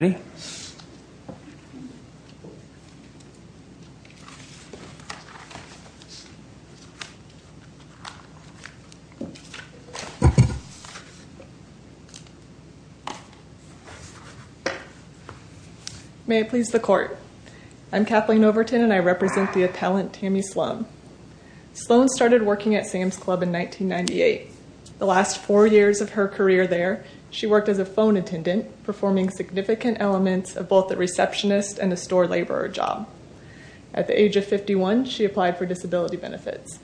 May I please the court? I'm Kathleen Overton and I represent the appellant Tammy Sloan. Sloan started working at Sam's Club in 1998. The last four years of her career there, she worked as a phone attendant, performing significant elements of both a receptionist and a store laborer job. At the age of 51, she applied for disability benefits.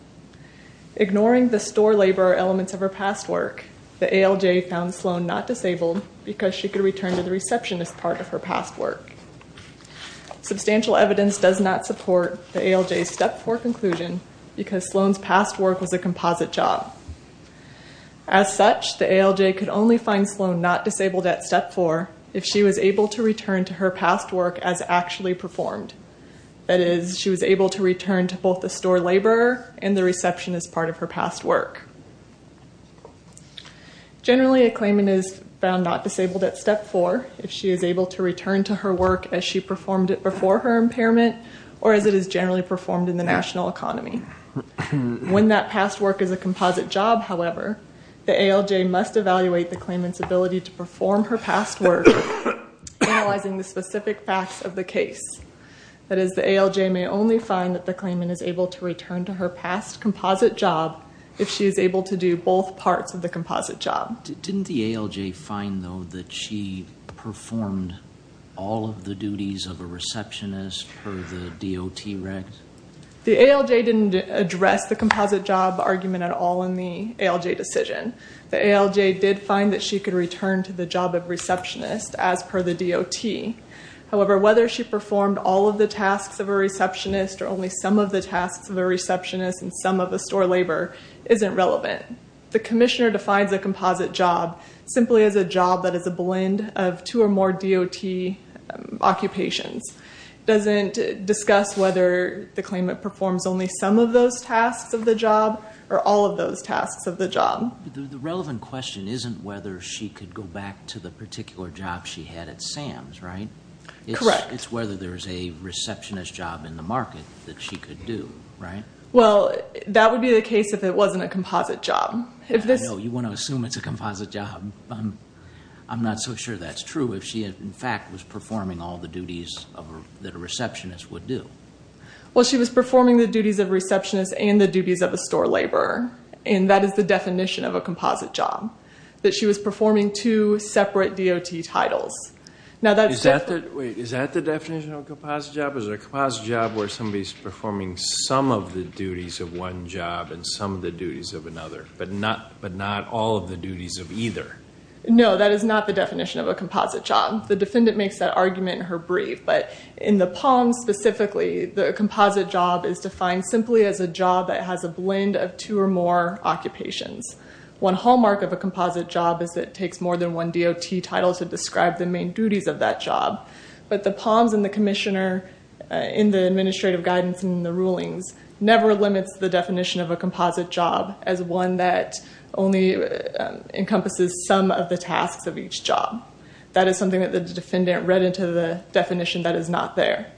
Ignoring the store laborer elements of her past work, the ALJ found Sloan not disabled because she could return to the receptionist part of her past work. Substantial evidence does not support the ALJ's step four conclusion because Sloan's past work was a composite job. As such, the ALJ found Sloan not disabled at step four if she was able to return to her past work as actually performed. That is, she was able to return to both the store laborer and the receptionist part of her past work. Generally, a claimant is found not disabled at step four if she is able to return to her work as she performed it before her impairment or as it is generally performed in the national economy. When that past work is a composite job, however, the ALJ must evaluate the claimant's ability to perform her past work, analyzing the specific facts of the case. That is, the ALJ may only find that the claimant is able to return to her past composite job if she is able to do both parts of the composite job. Didn't the ALJ find, though, that she performed all of the duties of a receptionist for the DOT rec? The ALJ didn't address the composite job argument at all in the ALJ decision. The ALJ did find that she could return to the job of receptionist as per the DOT. However, whether she performed all of the tasks of a receptionist or only some of the tasks of a receptionist and some of the store labor isn't relevant. The commissioner defines a composite job simply as a job that consists of two or more DOT occupations. It doesn't discuss whether the claimant performs only some of those tasks of the job or all of those tasks of the job. The relevant question isn't whether she could go back to the particular job she had at Sam's, right? Correct. It's whether there's a receptionist job in the market that she could do, right? Well, that would be the case if it wasn't a composite job. I know. You want to assume it's a composite job. I'm not so sure that's true if she, in fact, was performing all the duties that a receptionist would do. Well, she was performing the duties of a receptionist and the duties of a store laborer. And that is the definition of a composite job, that she was performing two separate DOT titles. Now that's different. Wait, is that the definition of a composite job? Is it a composite job where somebody's doing one job and some of the duties of another, but not all of the duties of either? No, that is not the definition of a composite job. The defendant makes that argument in her brief. But in the Palms specifically, the composite job is defined simply as a job that has a blend of two or more occupations. One hallmark of a composite job is it takes more than one DOT title to describe the main duties of that job. But the Palms and the Definition of a Composite Job as one that only encompasses some of the tasks of each job. That is something that the defendant read into the definition that is not there.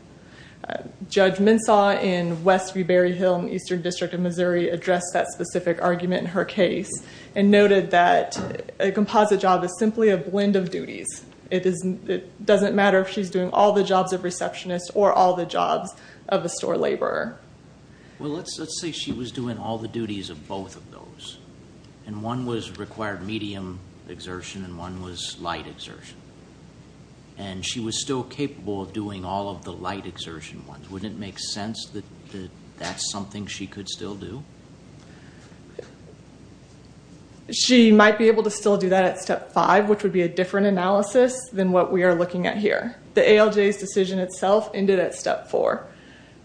Judge Mensah in West V. Berry Hill in the Eastern District of Missouri addressed that specific argument in her case and noted that a composite job is simply a blend of duties. It doesn't matter if she's doing all the jobs of a receptionist or all the jobs of a store laborer. Well, let's say she was doing all the duties of both of those. And one was required medium exertion and one was light exertion. And she was still capable of doing all of the light exertion ones. Wouldn't it make sense that that's something she could still do? She might be able to still do that at Step 5, which would be a different analysis than what we are looking at here. The ALJ's decision itself ended at Step 4.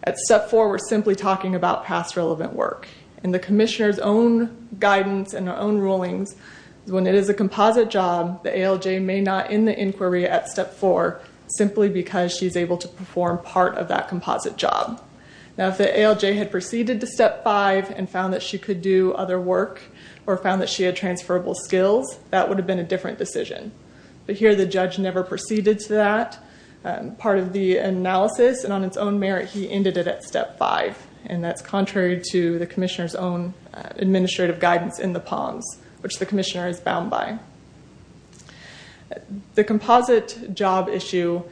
At Step 4, we're simply talking about past relevant work. And the Commissioner's own guidance and her own rulings, when it is a composite job, the ALJ may not end the inquiry at Step 4 simply because she's able to perform part of that composite job. Now, if the ALJ had proceeded to Step 5 and found that she could do other work or found that she had transferable skills, that would have been a different decision. But here, the judge never proceeded to that part of the analysis. And on its own merit, he ended it at Step 5. And that's contrary to the Commissioner's own administrative guidance in the POMS, which the Commissioner is bound by. The composite job issue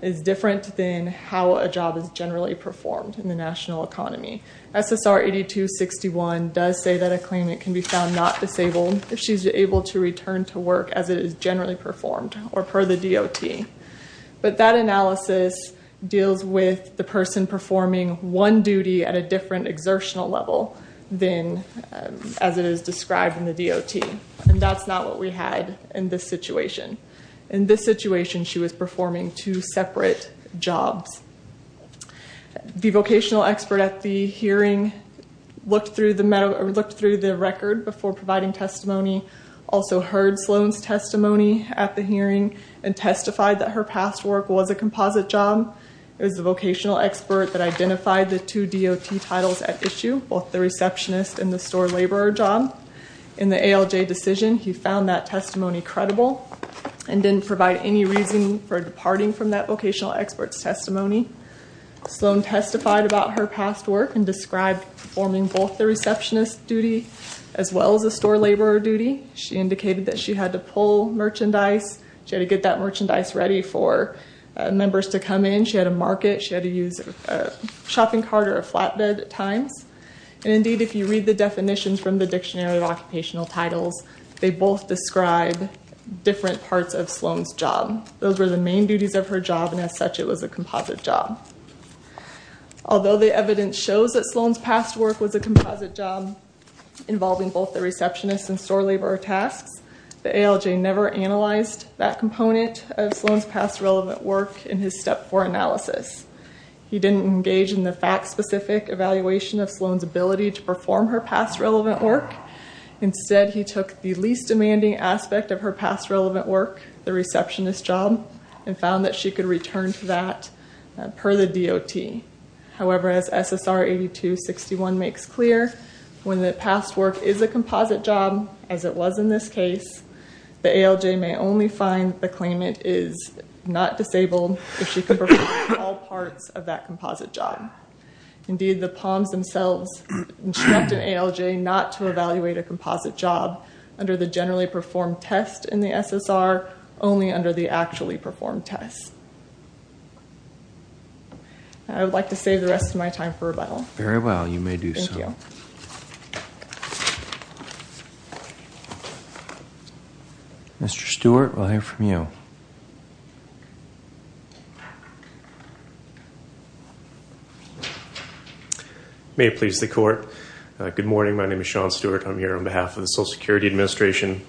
is different than how a job is generally performed in the national economy. SSR 8261 does say that a claimant can be found not disabled if she's able to return to work as it is generally performed or per the DOT. But that analysis deals with the person performing one duty at a different exertional level than as it is described in the DOT. And that's not what we had in this situation. In this situation, she was performing two separate jobs. The vocational expert at the hearing looked through the record before providing testimony, also heard Sloan's testimony at the hearing, and testified that her past work was a composite job. It was the vocational expert that identified the two DOT titles at issue, both the receptionist and the store laborer job. In the ALJ decision, he found that testimony credible and didn't provide any reason for departing from that vocational expert's testimony. Sloan testified about her past work and described performing both the receptionist duty as well as the store laborer duty. She indicated that she had to pull merchandise. She had to get that merchandise ready for members to come in. She had to mark it. She had to use a shopping cart or a flatbed at times. And indeed, if you read the definitions from the Dictionary of Occupational Titles, they both describe different parts of Sloan's job. Those were the main duties of her job, and as such, it was a composite job. Although the evidence shows that Sloan's past work was a composite job involving both the receptionist and store laborer tasks, the ALJ never analyzed that component of Sloan's past relevant work in his Step 4 analysis. He didn't engage in the fact-specific evaluation of Sloan's ability to perform her past relevant work. Instead, he took the least demanding aspect of her past relevant work, the receptionist job, and found that she could return to that per the DOT. However, as SSR 8261 makes clear, when the past work is a composite job, as it was in this case, the ALJ may only find the claimant is not disabled if she could perform all parts of that composite job. Indeed, the Palms themselves instructed ALJ not to evaluate a composite job under the generally performed test in the SSR, only under the actually performed test. I would like to save the rest of my time for rebuttal. Very well, you may do so. Thank you. Mr. Stewart, we'll hear from you. May it please the Court. Good morning, my name is Sean Stewart. I'm here on behalf of the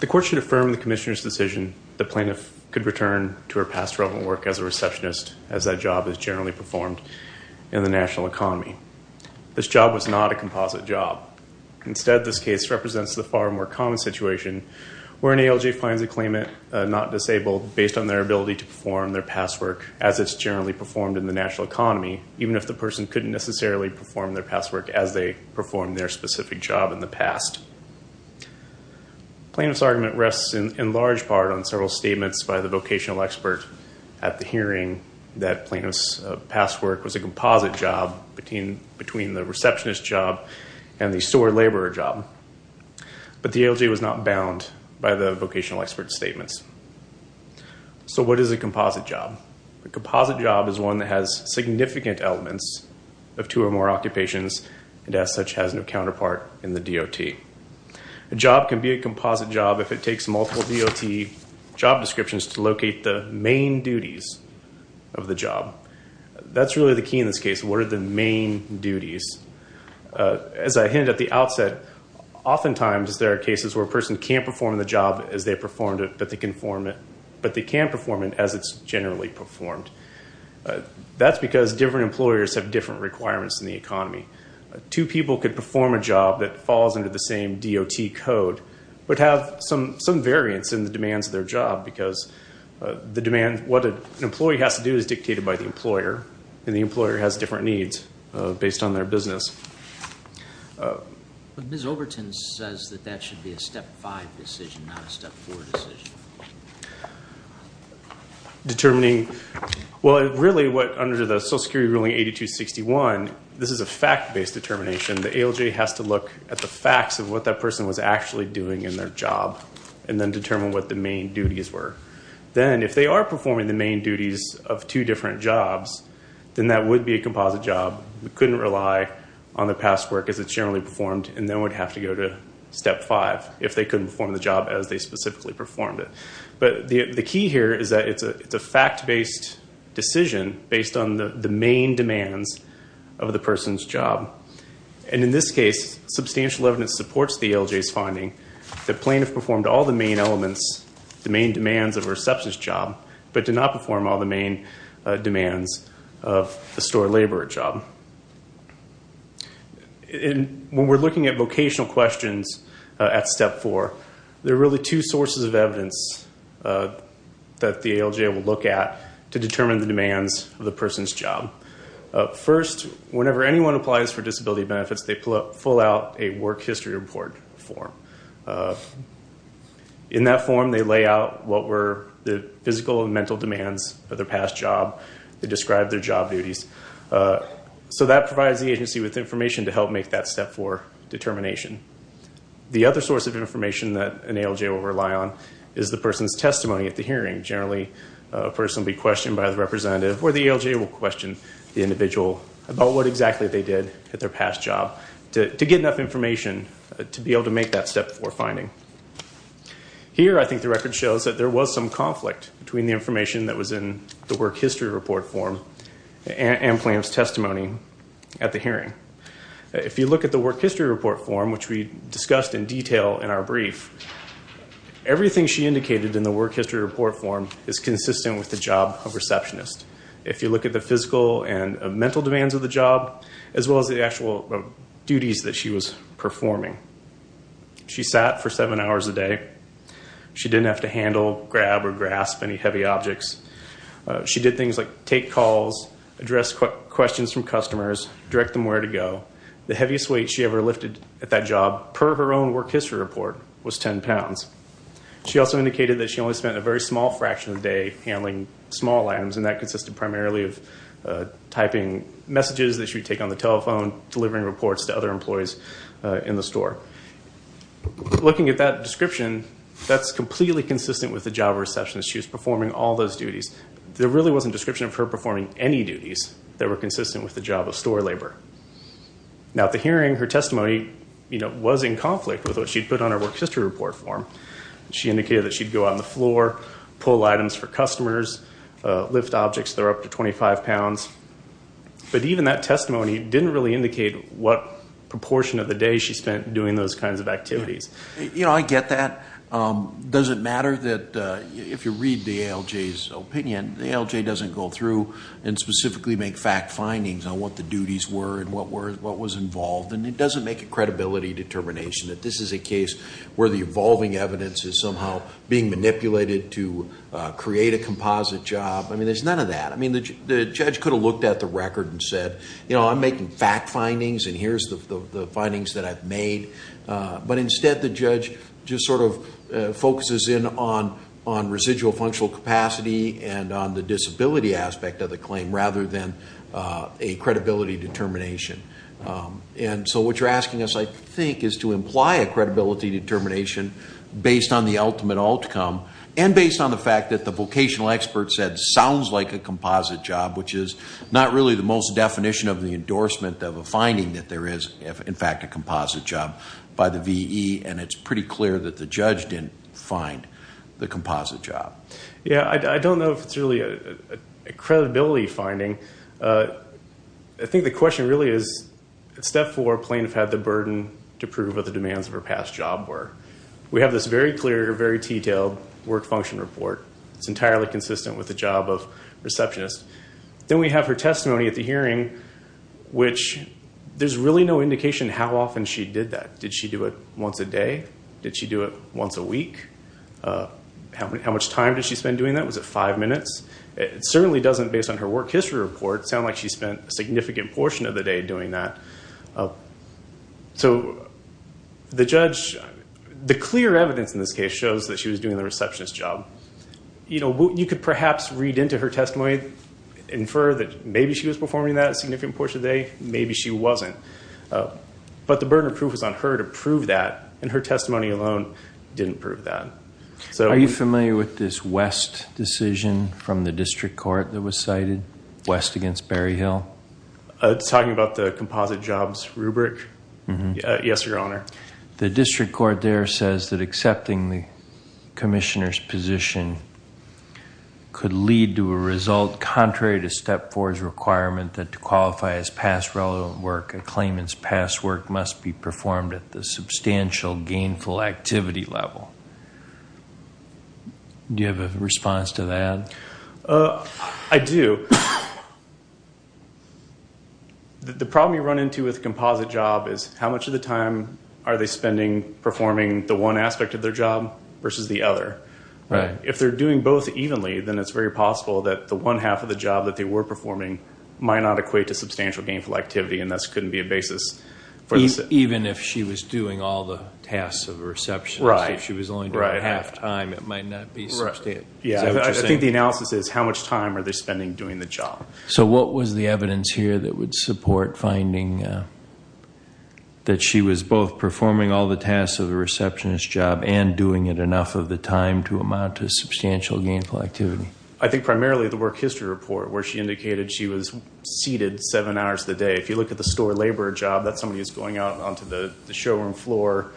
The Court should affirm the Commissioner's decision the plaintiff could return to her past relevant work as a receptionist as that job is generally performed in the national economy. This job was not a composite job. Instead, this case represents the far more common situation where an ALJ finds a claimant not disabled based on their ability to perform their past work as it's generally performed in the national economy, even if the person couldn't necessarily perform their past work as they performed their specific job in the past. The plaintiff's argument rests in large part on several statements by the vocational expert at the hearing that plaintiff's past work was a composite job between the receptionist job and the store laborer job. But the ALJ was not bound by the vocational expert's statements. So what is a composite job? A composite job is one that has significant elements of two or more occupations and as such has no counterpart in the DOT. A job can be a composite job if it takes multiple DOT job descriptions to locate the main duties of the job. That's really the key in this case. What are the main duties? As I hinted at the outset, oftentimes there are cases where a person can't perform it, but they can perform it as it's generally performed. That's because different employers have different requirements in the economy. Two people could perform a job that falls under the same DOT code but have some variance in the demands of their job because what an employee has to do is dictated by the employer and the employer has different needs based on their business. But Ms. Overton says that that should be a Step 5 decision, not a Step 4 decision. Determining, well really what under the Social Security ruling 8261, this is a fact-based determination. The ALJ has to look at the facts of what that person was actually doing in their job and then determine what the main duties were. Then if they are performing the main duties of two different jobs, then that would be a composite job. We couldn't rely on the past work as it's generally performed and then we'd have to go to Step 5 if they couldn't perform the job as they specifically performed it. But the key here is that it's a fact-based decision based on the main demands of the person's job. In this case, substantial evidence supports the ALJ's finding that plaintiffs performed all the main elements, the main demands of their substance job, but did not perform all the main demands of the store laborer job. When we're looking at vocational questions at Step 4, there are really two sources of evidence that the ALJ will look at to determine the demands of the person's job. First, whenever anyone applies for disability benefits, they pull out a work history report form. In that form, they lay out what were the physical and mental demands of their past job. They describe their job duties. That provides the agency with information to help make that Step 4 determination. The other source of information that an ALJ will rely on is the person's testimony at the hearing. Generally, a person will be questioned by the representative or the ALJ will question the individual about what exactly they did at their past job to get enough information to be able to make that Step 4 finding. Here, I think the record shows that there was some conflict between the information that was in the work history report form and plaintiff's testimony at the hearing. If you look at the work history report form, which we discussed in detail in our brief, everything she indicated in the work history report form is consistent with the job of receptionist. If you look at the physical and mental demands of the job, as well as the actual duties that she was performing, she sat for seven hours a day. She didn't have to handle, grab, or grasp any heavy objects. She did things like take calls, address questions from customers, direct them where to go. The heaviest weight she ever lifted at that job, per her own work history report, was 10 pounds. She also indicated that she only spent a very small fraction of the day handling small items, and that consisted primarily of typing messages that she would take on the telephone, delivering reports to other employees in the store. Looking at that description, that's completely consistent with the job of receptionist. She was performing all those duties. There really wasn't a description of her performing any duties that were consistent with the job of store labor. At the hearing, her testimony was in conflict with what she'd put on her work history report form. She indicated that she'd go out on the floor, pull items for customers, lift objects that were up to 25 pounds. But even that testimony didn't really indicate what proportion of the day she spent doing those kinds of activities. You know, I get that. Does it matter that if you read the ALJ's opinion, the ALJ doesn't go through and specifically make fact findings on what the duties were and what was involved, and it doesn't make a credibility determination that this is a case where the evolving evidence is somehow being manipulated to create a composite job. I mean, there's none of that. I mean, the judge could have looked at the record and said, you know, I'm making fact findings, and here's the findings that I've made. But instead, the judge just sort of focuses in on residual functional capacity and on the disability aspect of the claim rather than a credibility determination. And so what you're asking us, I think, is to imply a credibility determination based on the ultimate outcome and based on the fact that the vocational expert said sounds like a composite job, which is not really the most definition of the endorsement of a finding that there is, in fact, a composite job by the VE, and it's pretty clear that the judge didn't find the composite job. Yeah, I don't know if it's really a credibility finding. I think the question really is, at step four, plaintiff had the burden to prove what the demands of her past job were. We have this very clear, very detailed work function report. It's entirely consistent with the job of receptionist. Then we have her testimony at the hearing, which there's really no indication how often she did that. Did she do it once a day? Did she do it once a week? How much time did she spend doing that? Was it five minutes? It certainly doesn't, based on her work history report, sound like she spent a significant portion of the day doing that. The judge, the clear evidence in this case shows that she was doing the receptionist's job. You could perhaps read into her testimony, infer that maybe she was performing that a significant portion of the day, maybe she wasn't, but the burden of proof is on her to prove that, and her testimony alone didn't prove that. Are you familiar with this West decision from the district court that was cited, West against Berry Hill? It's talking about the composite jobs rubric? Yes, Your Honor. The district court there says that accepting the commissioner's position could lead to a result contrary to step four's requirement that to qualify as past relevant work, a claimant's past work must be performed at the substantial gainful activity level. Do you have a response to that? I do. The problem you run into with a composite job is how much of the time are they spending performing the one aspect of their job versus the other? If they're doing both evenly, then it's very possible that the one half of the job that they were performing might not equate to substantial gainful activity, and this couldn't be a basis for this. Even if she was doing all the tasks of a receptionist, if she was only doing half the time, it might not be substantial. I think the analysis is how much time are they spending doing the job? What was the evidence here that would support finding that she was both performing all the tasks of a receptionist's job and doing it enough of the time to amount to substantial gainful activity? I think primarily the work history report where she indicated she was seated seven hours a day. If you look at the store laborer job, that's somebody who's going out onto the showroom floor,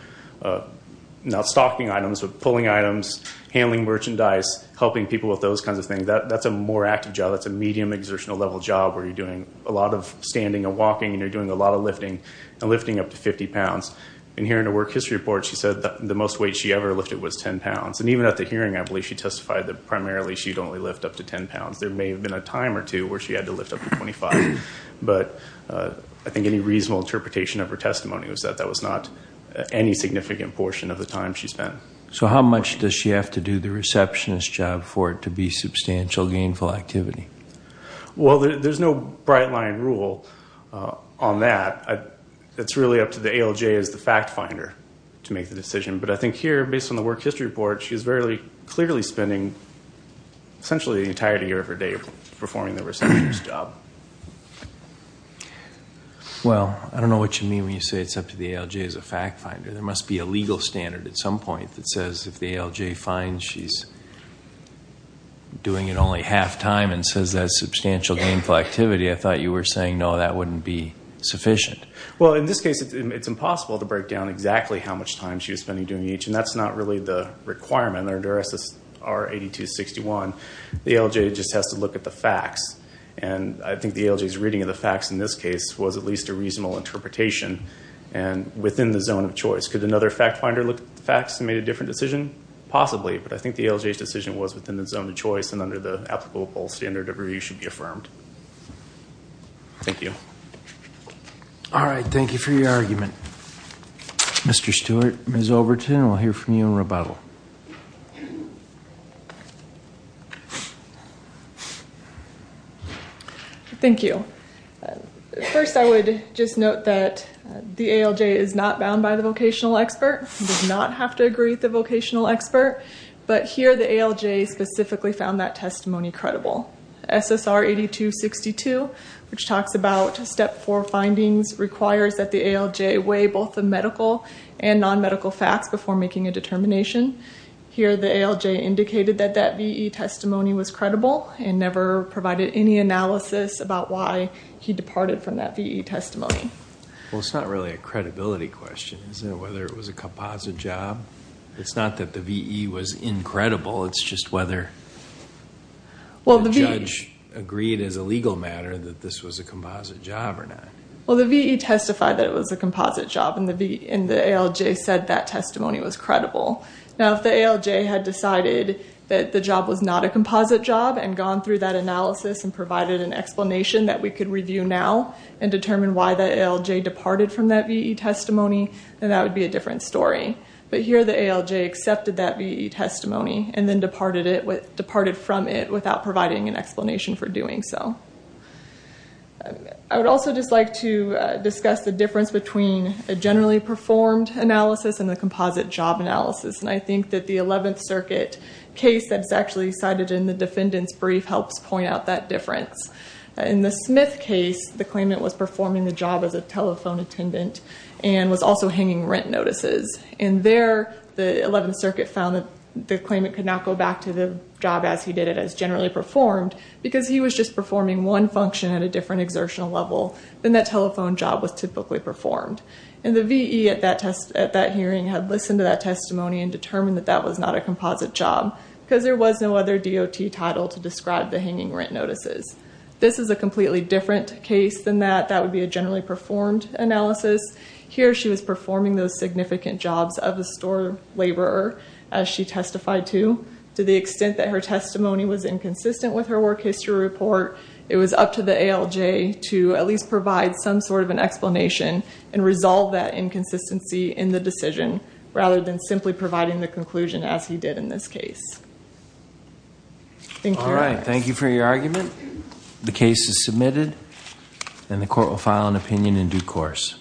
not stocking items but pulling items, handling merchandise, helping people with those kinds of things. That's a more active job. That's a medium exertional level job where you're doing a lot of standing and walking, and you're doing a lot of lifting and lifting up to 50 pounds. Here in the work history report, she said the most weight she ever lifted was 10 pounds. Even at the hearing, I believe she testified that primarily she'd only lift up to 10 pounds. There may have been a time or two where she had to lift up to 25, but I think any reasonable interpretation of her testimony was that that was not any significant portion of the time she spent. So how much does she have to do the receptionist's job for it to be substantial gainful activity? Well, there's no bright line rule on that. It's really up to the ALJ as the fact finder to make the decision. But I think here, based on the work history report, she was clearly spending essentially the entirety of her day performing the receptionist's job. Well, I don't know what you mean when you say it's up to the ALJ as a fact finder. There must be a legal standard at some point that says if the ALJ finds she's doing it only half time and says that's substantial gainful activity, I thought you were saying, no, that wouldn't be sufficient. Well, in this case, it's impossible to break down exactly how much time she was spending doing each, and that's not really the requirement under SSR 8261. The ALJ just has to look at the facts, and I think the ALJ's reading of the facts in this case was at least a reasonable interpretation within the zone of choice. Could another fact finder look at the facts and make a different decision? Possibly, but I think the ALJ's decision was within the zone of choice and under the applicable standard of where you should be affirmed. Thank you. All right. Thank you for your argument. Mr. Stewart, Ms. Overton, we'll hear from you in rebuttal. Thank you. First, I would just note that the ALJ is not bound by the vocational expert, does not have to agree with the vocational expert, but here the ALJ specifically found that testimony credible. SSR 8262, which talks about step four findings, requires that the ALJ weigh both the medical and non-medical facts before making a determination. Here the ALJ indicated that that VE testimony was credible and never provided any analysis about why he departed from that VE testimony. Well, it's not really a credibility question. Is it whether it was a composite job? It's not that the VE was incredible. It's just whether the judge agreed as a legal matter that this was a composite job or not. Well, the VE testified that it was a composite job, and the ALJ said that testimony was credible. Now, if the ALJ had decided that the job was not a composite job and gone through that analysis and provided an explanation that we could review now and determine why the ALJ departed from that VE testimony, then that would be a different story. But here the ALJ accepted that VE testimony and then departed from it without providing an explanation for doing so. I would also just like to discuss the difference between a generally performed analysis and the composite job analysis, and I think that the Eleventh Circuit case that's actually cited in the defendant's brief helps point out that difference. In the Smith case, the claimant was performing the job as a telephone attendant and was also hanging rent notices, and there the Eleventh Circuit found that the claimant could not go back to the job as he did it, as generally performed, because he was just performing one function at a different exertional level than that telephone job was typically performed. And the VE at that hearing had listened to that testimony and determined that that was not a composite job because there was no other DOT title to describe the hanging rent notices. This is a completely different case than that. In fact, that would be a generally performed analysis. Here she was performing those significant jobs of a store laborer as she testified to. To the extent that her testimony was inconsistent with her work history report, it was up to the ALJ to at least provide some sort of an explanation and resolve that inconsistency in the decision rather than simply providing the conclusion as he did in this case. Thank you. All right, thank you for your argument. The case is submitted and the court will file an opinion in due course.